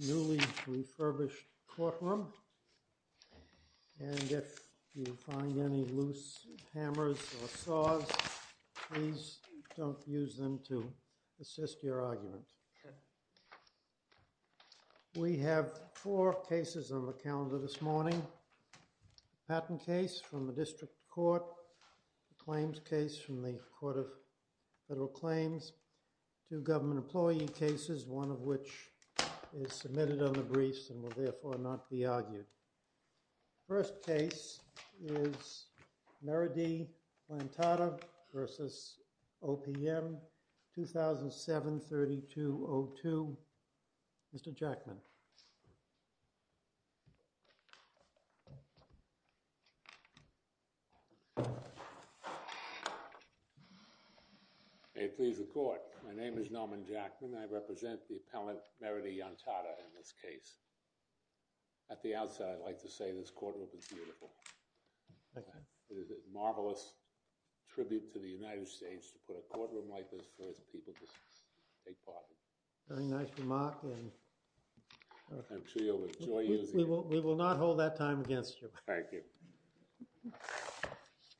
Newly refurbished courtroom, and if you find any loose hammers or saws, please don't use them to assist your argument. We have four cases on the calendar this morning. Patent case from the District Court, claims case from the Court of Federal Claims, two government employee cases, one of which is submitted on the briefs and will therefore not be argued. First case is Meredith Lantada v. OPM, 2007-3202. Mr. Jackman. May it please the Court. My name is Norman Jackman. I represent the appellant Meredith Lantada in this case. At the outset, I'd like to say this courtroom is beautiful. It is a marvelous tribute to the United States to put a courtroom like this for its people to take part in. Very nice remark. I'm sure you'll enjoy using it. We will not hold that time against you. Thank you.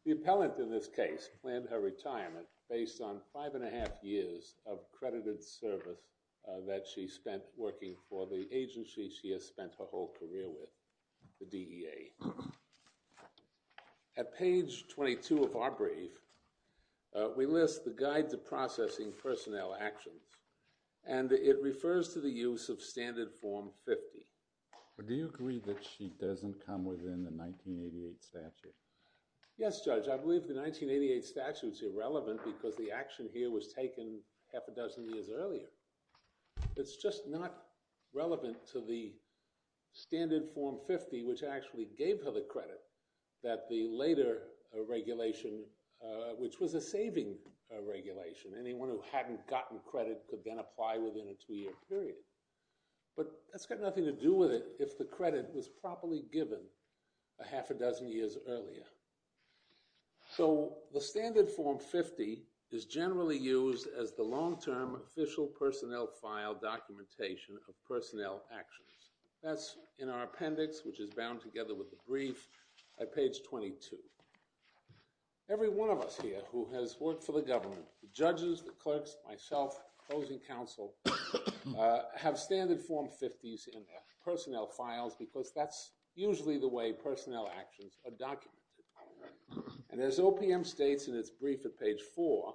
The appellant in this case planned her retirement based on five and a half years of credited service that she spent working for the agency she has spent her whole career with, the DEA. At page 22 of our brief, we list the Guide to Processing Personnel Actions, and it refers to the use of Standard Form 50. Do you agree that she doesn't come within the 1988 statute? Yes, Judge. I believe the 1988 statute is irrelevant because the action here was taken half a dozen years earlier. It's just not relevant to the Standard Form 50, which actually gave her the credit, that the later regulation, which was a saving regulation, anyone who hadn't gotten credit could then apply within a two-year period. But that's got nothing to do with it if the credit was properly given a half a dozen years earlier. So the Standard Form 50 is generally used as the long-term official personnel file documentation of personnel actions. That's in our appendix, which is bound together with the brief at page 22. Every one of us here who has worked for the government, the judges, the clerks, myself, those in counsel, have Standard Form 50s in their personnel files because that's usually the way personnel actions are documented. And as OPM states in its brief at page 4,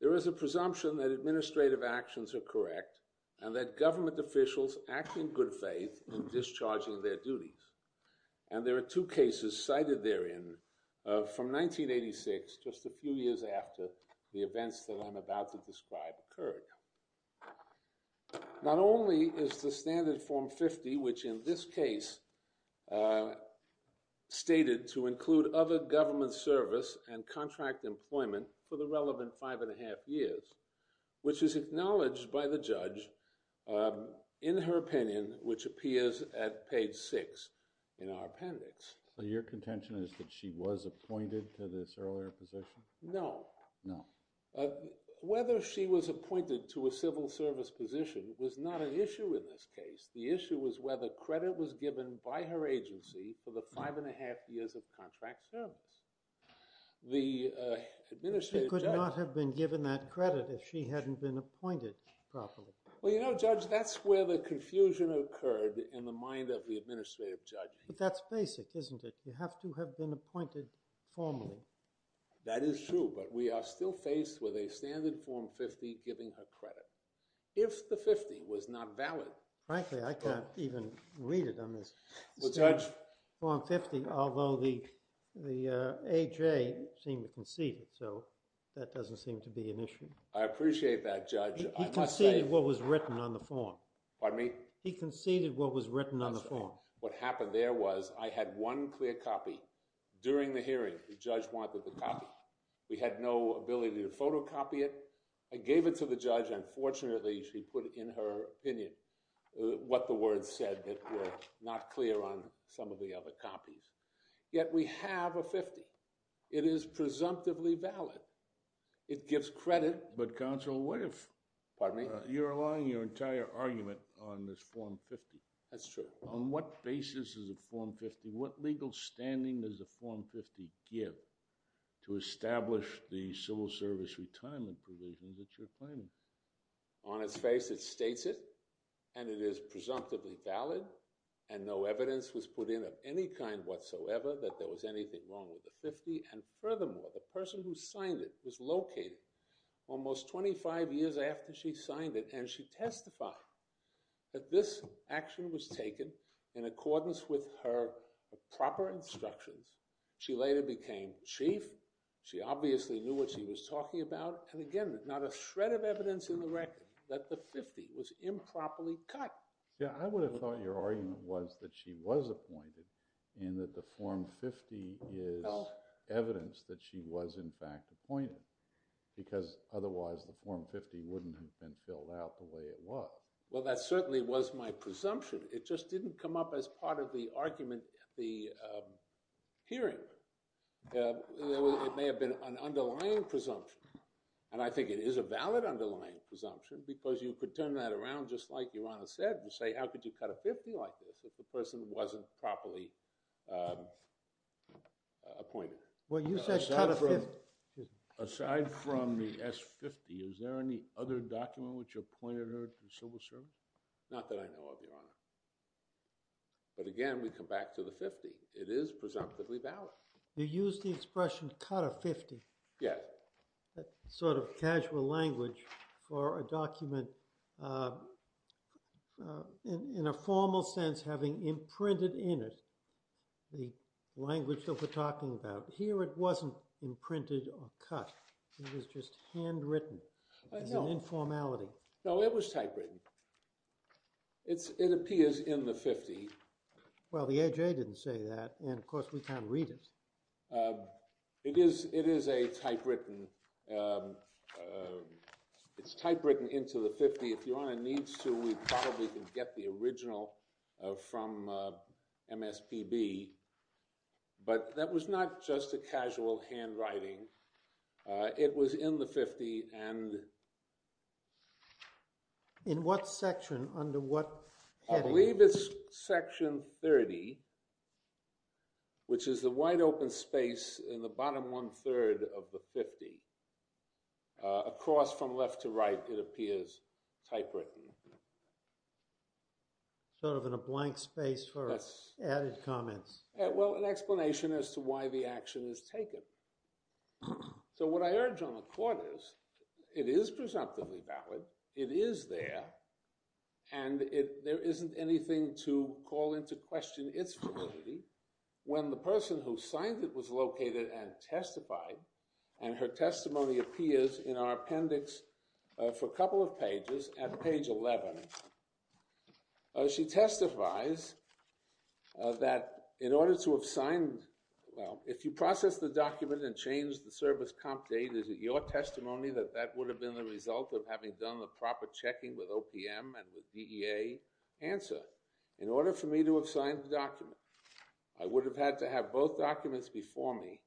there is a presumption that administrative actions are correct and that government officials act in good faith in discharging their duties. And there are two cases cited therein from 1986, just a few years after the events that I'm about to describe occurred. Not only is the Standard Form 50, which in this case stated to include other government service and contract employment for the relevant five and a half years, which is acknowledged by the judge in her opinion, which appears at page 6 in our appendix. So your contention is that she was appointed to this earlier position? No. No. Whether she was appointed to a civil service position was not an issue in this case. The issue was whether credit was given by her agency for the five and a half years of contract service. She could not have been given that credit if she hadn't been appointed properly. Well, you know, Judge, that's where the confusion occurred in the mind of the administrative judge. But that's basic, isn't it? You have to have been appointed formally. That is true. But we are still faced with a Standard Form 50 giving her credit. If the 50 was not valid— Frankly, I can't even read it on this. Well, Judge— Standard Form 50, although the A.J. seemed to concede it. So that doesn't seem to be an issue. I appreciate that, Judge. He conceded what was written on the form. Pardon me? He conceded what was written on the form. What happened there was I had one clear copy during the hearing. The judge wanted the copy. We had no ability to photocopy it. I gave it to the judge. Unfortunately, she put in her opinion what the words said that were not clear on some of the other copies. Yet we have a 50. It is presumptively valid. It gives credit. But, Counsel, what if— Pardon me? You're allowing your entire argument on this Form 50. That's true. On what basis is a Form 50— What legal standing does a Form 50 give to establish the civil service retirement provisions that you're claiming? On its face, it states it, and it is presumptively valid, and no evidence was put in of any kind whatsoever that there was anything wrong with the 50. And furthermore, the person who signed it was located almost 25 years after she signed it, and she testified that this action was taken in accordance with her proper instructions. She later became chief. She obviously knew what she was talking about. And again, not a shred of evidence in the record that the 50 was improperly cut. Yeah, I would have thought your argument was that she was appointed and that the Form 50 is evidence that she was, in fact, appointed because otherwise the Form 50 wouldn't have been filled out the way it was. Well, that certainly was my presumption. It just didn't come up as part of the argument at the hearing. It may have been an underlying presumption, and I think it is a valid underlying presumption because you could turn that around just like Your Honor said and say, how could you cut a 50 like this if the person wasn't properly appointed? Well, you said cut a 50. Aside from the S50, is there any other document which appointed her to civil service? Not that I know of, Your Honor. But again, we come back to the 50. It is presumptively valid. You used the expression cut a 50. Yes. That sort of casual language for a document in a formal sense having imprinted in it the language that we're talking about. Here it wasn't imprinted or cut. It was just handwritten as an informality. No, it was typewritten. It appears in the 50. Well, the AJA didn't say that, and of course we can't read it. It is a typewritten. It's typewritten into the 50. If Your Honor needs to, we probably can get the original from MSPB. But that was not just a casual handwriting. It was in the 50. In what section, under what heading? I believe it's section 30, which is the wide open space in the bottom one-third of the 50. Across from left to right, it appears typewritten. Sort of in a blank space for added comments. Well, an explanation as to why the action is taken. So what I urge on the court is it is presumptively valid. It is there, and there isn't anything to call into question its validity. When the person who signed it was located and testified, and her testimony appears in our appendix for a couple of pages at page 11, she testifies that in order to have signed, well, if you process the document and change the service comp date, is it your testimony that that would have been the result of having done the proper checking with OPM and with DEA? Answer, in order for me to have signed the document. I would have had to have both documents before me.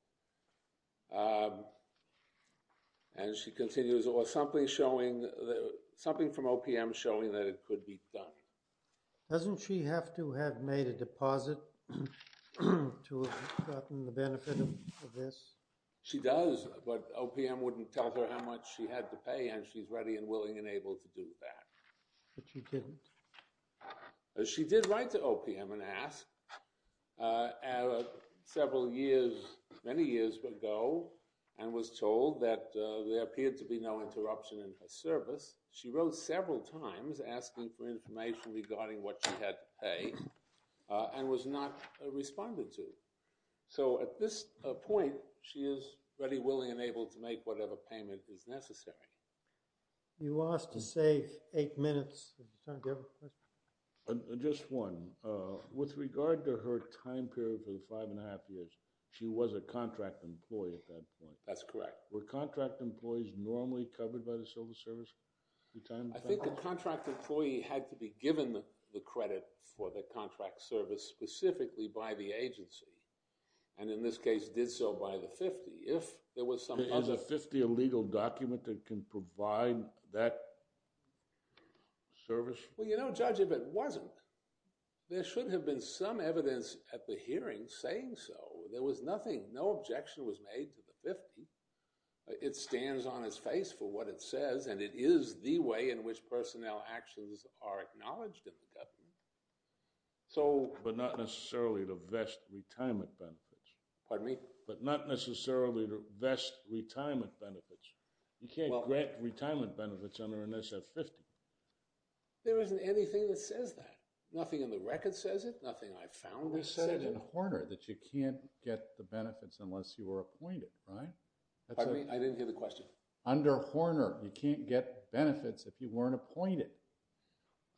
And she continues, or something from OPM showing that it could be done. Doesn't she have to have made a deposit to have gotten the benefit of this? She does, but OPM wouldn't tell her how much she had to pay, and she's ready and willing and able to do that. But she didn't? She did write to OPM and ask several years, many years ago, and was told that there appeared to be no interruption in her service. She wrote several times asking for information regarding what she had to pay, and was not responded to. So at this point, she is ready, willing, and able to make whatever payment is necessary. You asked to save eight minutes. Just one. With regard to her time period for the five and a half years, she was a contract employee at that point. That's correct. Were contract employees normally covered by the civil service? I think the contract employee had to be given the credit for the contract service specifically by the agency, and in this case did so by the 50. Is a 50 a legal document that can provide that service? Well, you know, Judge, if it wasn't, there should have been some evidence at the hearing saying so. There was nothing. No objection was made to the 50. It stands on its face for what it says, and it is the way in which personnel actions are acknowledged in the government. But not necessarily to vest retirement benefits. Pardon me? But not necessarily to vest retirement benefits. You can't grant retirement benefits under an SF-50. There isn't anything that says that. Nothing in the record says it. Nothing I found says it. We said it in Horner that you can't get the benefits unless you were appointed, right? Pardon me? I didn't hear the question. Under Horner, you can't get benefits if you weren't appointed.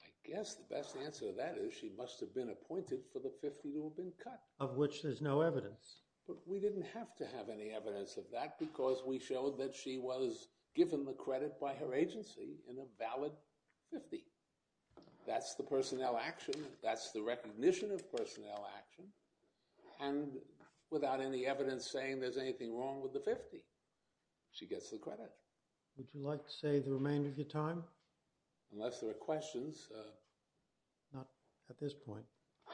I guess the best answer to that is she must have been appointed for the 50 to have been cut. Of which there's no evidence. But we didn't have to have any evidence of that because we showed that she was given the credit by her agency in a valid 50. That's the personnel action. That's the recognition of personnel action. And without any evidence saying there's anything wrong with the 50, she gets the credit. Would you like to save the remainder of your time? Unless there are questions. Not at this point.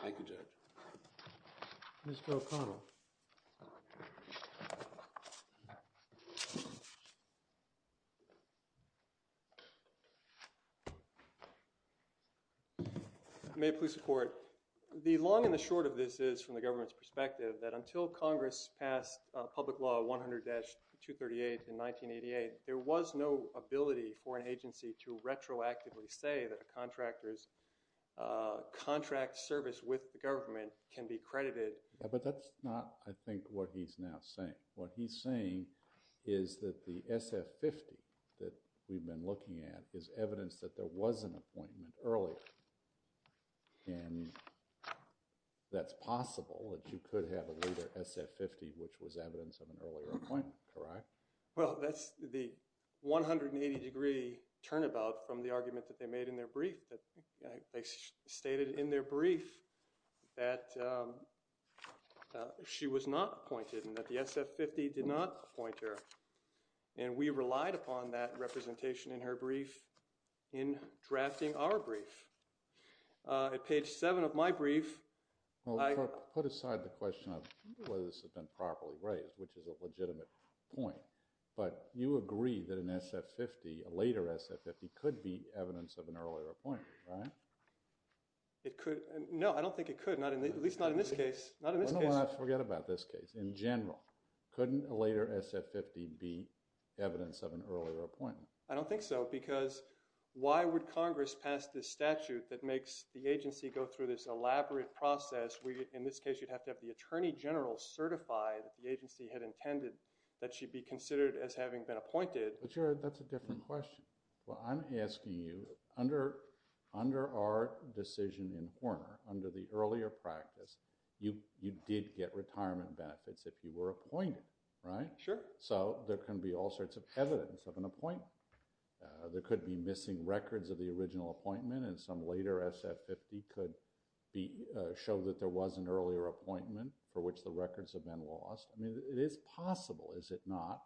Thank you, Judge. Mr. O'Connell. May it please the Court. The long and the short of this is, from the government's perspective, that until Congress passed Public Law 100-238 in 1988, there was no ability for an agency to retroactively say that a contractor's contract service with the government can be credited. But that's not, I think, what he's now saying. What he's saying is that the SF-50 that we've been looking at is evidence that there was an appointment earlier. And that's possible that you could have a later SF-50, which was evidence of an earlier appointment, correct? Well, that's the 180-degree turnabout from the argument that they made in their brief. They stated in their brief that she was not appointed and that the SF-50 did not appoint her. And we relied upon that representation in her brief in drafting our brief. At page 7 of my brief – Well, put aside the question of whether this had been properly raised, which is a legitimate point. But you agree that an SF-50, a later SF-50, could be evidence of an earlier appointment, right? It could – no, I don't think it could, at least not in this case. Not in this case. Oh, no, I forget about this case. In general, couldn't a later SF-50 be evidence of an earlier appointment? I don't think so because why would Congress pass this statute that makes the agency go through this elaborate process? In this case, you'd have to have the attorney general certify that the agency had intended that she be considered as having been appointed. But, Jared, that's a different question. Well, I'm asking you, under our decision in Horner, under the earlier practice, you did get retirement benefits if you were appointed, right? Sure. So there can be all sorts of evidence of an appointment. There could be missing records of the original appointment, and some later SF-50 could show that there was an earlier appointment for which the records have been lost. I mean, it is possible, is it not,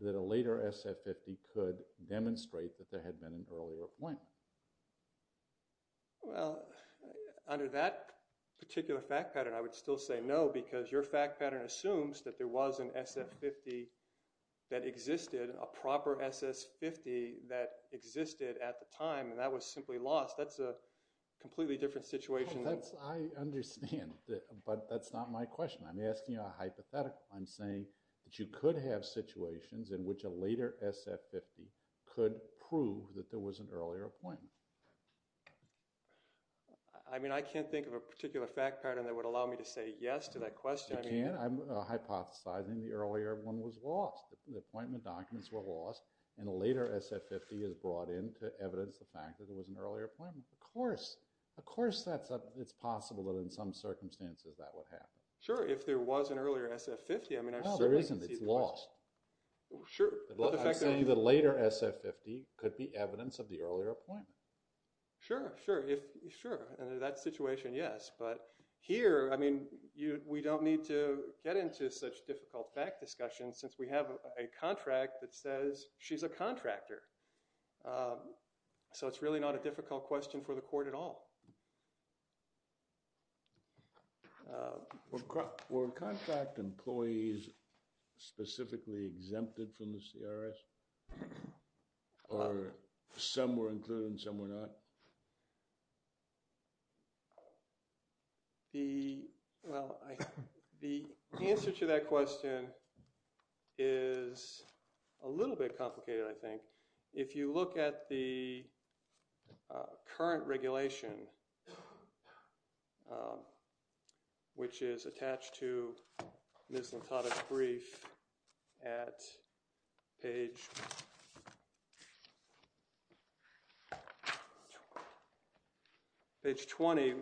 that a later SF-50 could demonstrate that there had been an earlier appointment? Well, under that particular fact pattern, I would still say no because your fact pattern assumes that there was an SF-50 that existed, a proper SF-50 that existed at the time, and that was simply lost. That's a completely different situation. I understand, but that's not my question. I'm asking you a hypothetical. I'm saying that you could have situations in which a later SF-50 could prove that there was an earlier appointment. I mean, I can't think of a particular fact pattern that would allow me to say yes to that question. You can't? I'm hypothesizing the earlier one was lost. The appointment documents were lost, and a later SF-50 is brought in to evidence the fact that there was an earlier appointment. Of course. Of course it's possible that in some circumstances that would happen. Sure, if there was an earlier SF-50. No, there isn't. It's lost. Sure. I'm saying the later SF-50 could be evidence of the earlier appointment. Sure, sure. Under that situation, yes. But here, I mean, we don't need to get into such difficult fact discussions since we have a contract that says she's a contractor. So it's really not a difficult question for the court at all. Were contract employees specifically exempted from the CRS? Or some were included and some were not? The answer to that question is a little bit complicated, I think. If you look at the current regulation, which is attached to Ms. Natata's brief at page 20,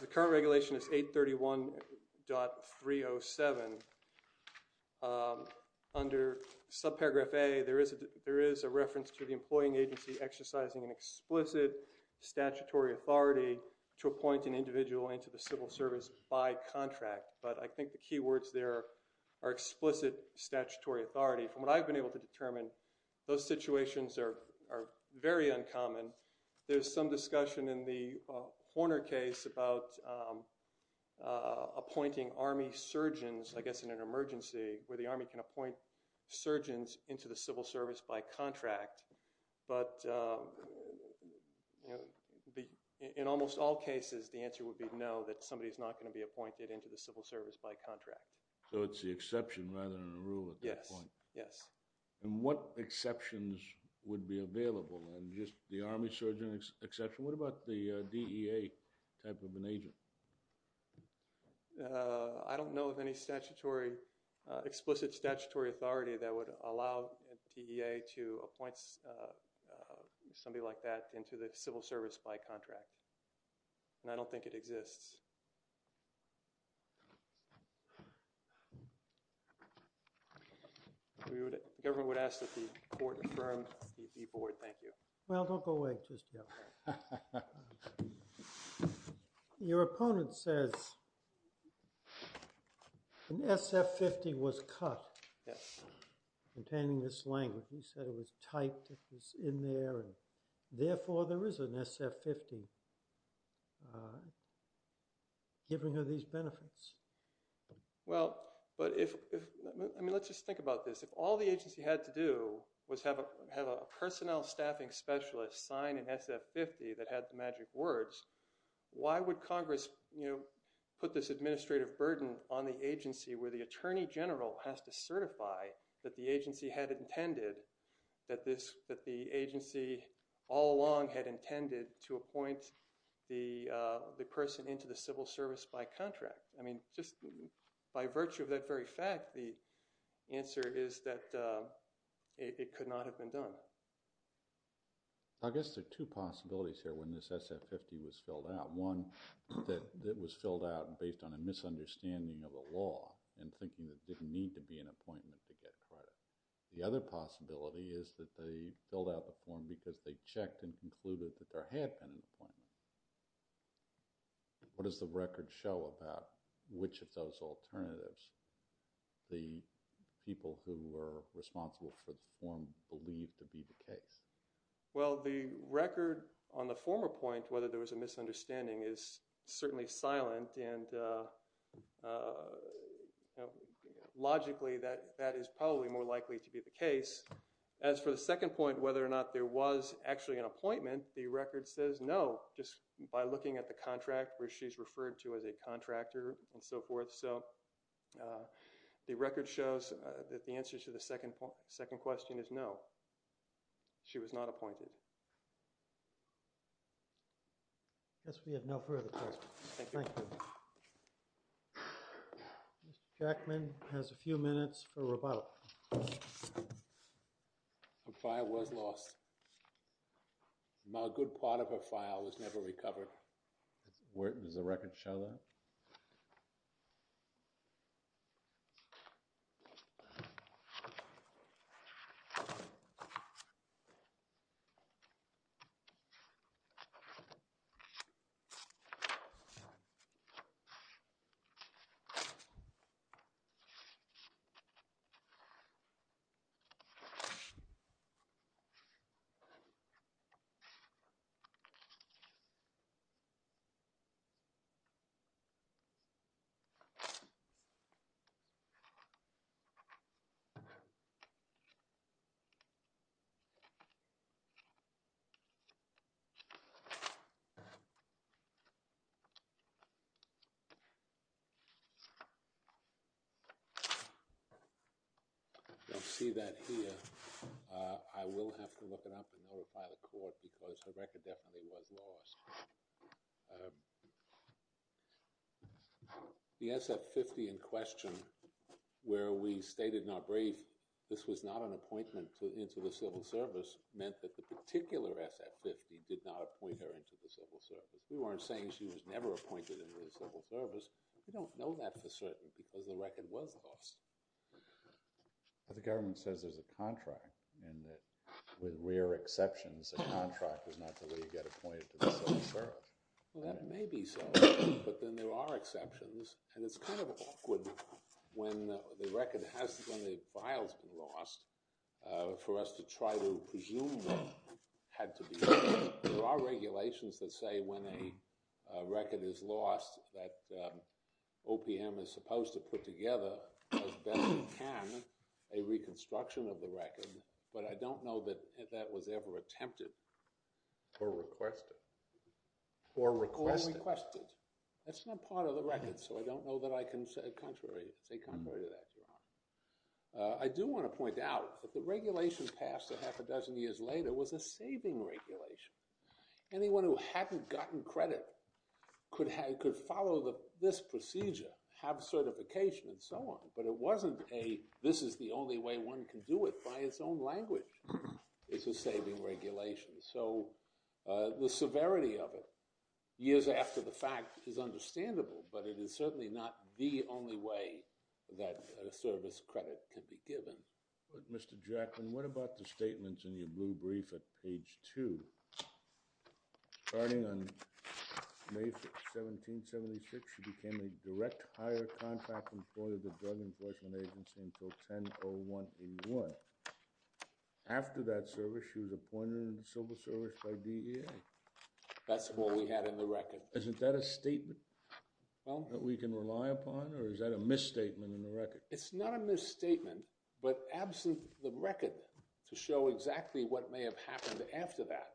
the current regulation is 831.307. Under subparagraph A, there is a reference to the employing agency exercising an explicit statutory authority to appoint an individual into the civil service by contract. But I think the key words there are explicit statutory authority. From what I've been able to determine, those situations are very uncommon. There's some discussion in the Horner case about appointing Army surgeons, I guess in an emergency, where the Army can appoint surgeons into the civil service by contract. But in almost all cases, the answer would be no, that somebody's not going to be appointed into the civil service by contract. So it's the exception rather than a rule at that point? Yes, yes. And what exceptions would be available? Just the Army surgeon exception? What about the DEA type of an agent? I don't know of any explicit statutory authority that would allow DEA to appoint somebody like that into the civil service by contract. And I don't think it exists. The government would ask that the court affirm the board. Thank you. Well, don't go away just yet. Your opponent says an SF-50 was cut. Yes. Containing this language. He said it was typed. It was in there. And therefore, there is an SF-50. Giving her these benefits. Well, but if – I mean, let's just think about this. If all the agency had to do was have a personnel staffing specialist sign an SF-50 that had the magic words, why would Congress, you know, put this administrative burden on the agency where the attorney general has to certify that the agency had intended – the person into the civil service by contract? I mean, just by virtue of that very fact, the answer is that it could not have been done. I guess there are two possibilities here when this SF-50 was filled out. One, that it was filled out based on a misunderstanding of the law and thinking that there didn't need to be an appointment to get credit. The other possibility is that they filled out the form because they checked and concluded that there had been an appointment. What does the record show about which of those alternatives the people who were responsible for the form believed to be the case? Well, the record on the former point, whether there was a misunderstanding, is certainly silent and logically that is probably more likely to be the case. As for the second point, whether or not there was actually an appointment, the record says no just by looking at the contract where she's referred to as a contractor and so forth. So the record shows that the answer to the second question is no. She was not appointed. I guess we have no further questions. Thank you. Mr. Jackman has a few minutes for rebuttal. Her file was lost. A good part of her file was never recovered. Does the record show that? No. I don't see that here. I will have to look it up and notify the court because her record definitely was lost. The SF-50 in question where we stated in our brief this was not an appointment into the Civil Service meant that the particular SF-50 did not appoint her into the Civil Service. We weren't saying she was never appointed into the Civil Service. We don't know that for certain because the record was lost. But the government says there's a contract and that with rare exceptions, a contract is not the way you get appointed to the Civil Service. Well, that may be so, but then there are exceptions. And it's kind of awkward when the file's been lost for us to try to presume that it had to be. There are regulations that say when a record is lost that OPM is supposed to put together, as best it can, a reconstruction of the record. But I don't know that that was ever attempted. Or requested. Or requested. That's not part of the record, so I don't know that I can say contrary to that, Your Honor. I do want to point out that the regulation passed a half a dozen years later was a saving regulation. Anyone who hadn't gotten credit could follow this procedure, have certification, and so on. But it wasn't a this is the only way one can do it by its own language. It's a saving regulation. So the severity of it, years after the fact, is understandable, but it is certainly not the only way that a service credit can be given. But, Mr. Jackman, what about the statements in your blue brief at page 2? Starting on May 17, 1776, she became a direct hire contract employee of the Drug Enforcement Agency until 10-01-81. After that service, she was appointed into civil service by DEA. That's all we had in the record. Isn't that a statement that we can rely upon, or is that a misstatement in the record? It's not a misstatement, but absent the record to show exactly what may have happened after that.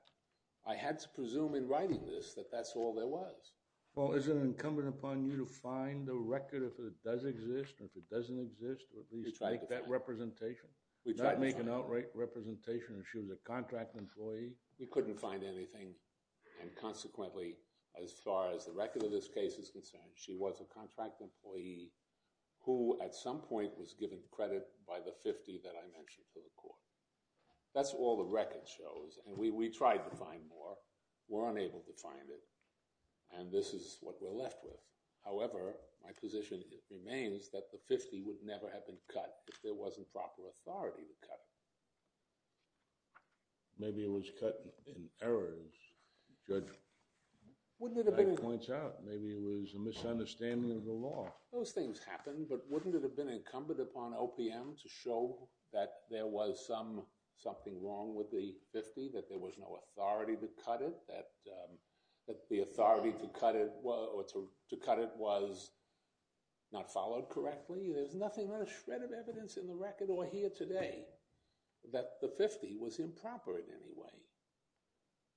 I had to presume in writing this that that's all there was. Well, is it incumbent upon you to find the record if it does exist, or if it doesn't exist, or at least make that representation? Not make an outright representation that she was a contract employee? We couldn't find anything. And consequently, as far as the record of this case is concerned, she was a contract employee who, at some point, was given credit by the 50 that I mentioned to the court. That's all the record shows, and we tried to find more. We're unable to find it, and this is what we're left with. However, my position remains that the 50 would never have been cut if there wasn't proper authority to cut it. Maybe it was cut in errors. That points out maybe it was a misunderstanding of the law. Those things happen, but wouldn't it have been incumbent upon OPM to show that there was something wrong with the 50, that there was no authority to cut it, that the authority to cut it was not followed correctly? There's nothing but a shred of evidence in the record or here today that the 50 was improper in any way.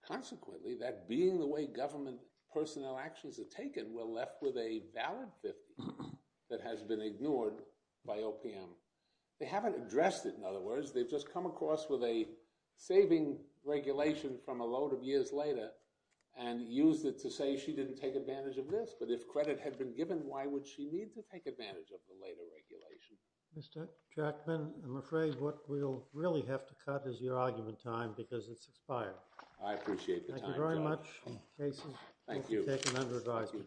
Consequently, that being the way government personnel actions are taken, we're left with a valid 50 that has been ignored by OPM. They haven't addressed it, in other words. They've just come across with a saving regulation from a load of years later and used it to say she didn't take advantage of this. But if credit had been given, why would she need to take advantage of the later regulation? Mr. Jackman, I'm afraid what we'll really have to cut is your argument time because it's expired. I appreciate the time, Judge. Thank you very much. Thank you. Thank you, Judge.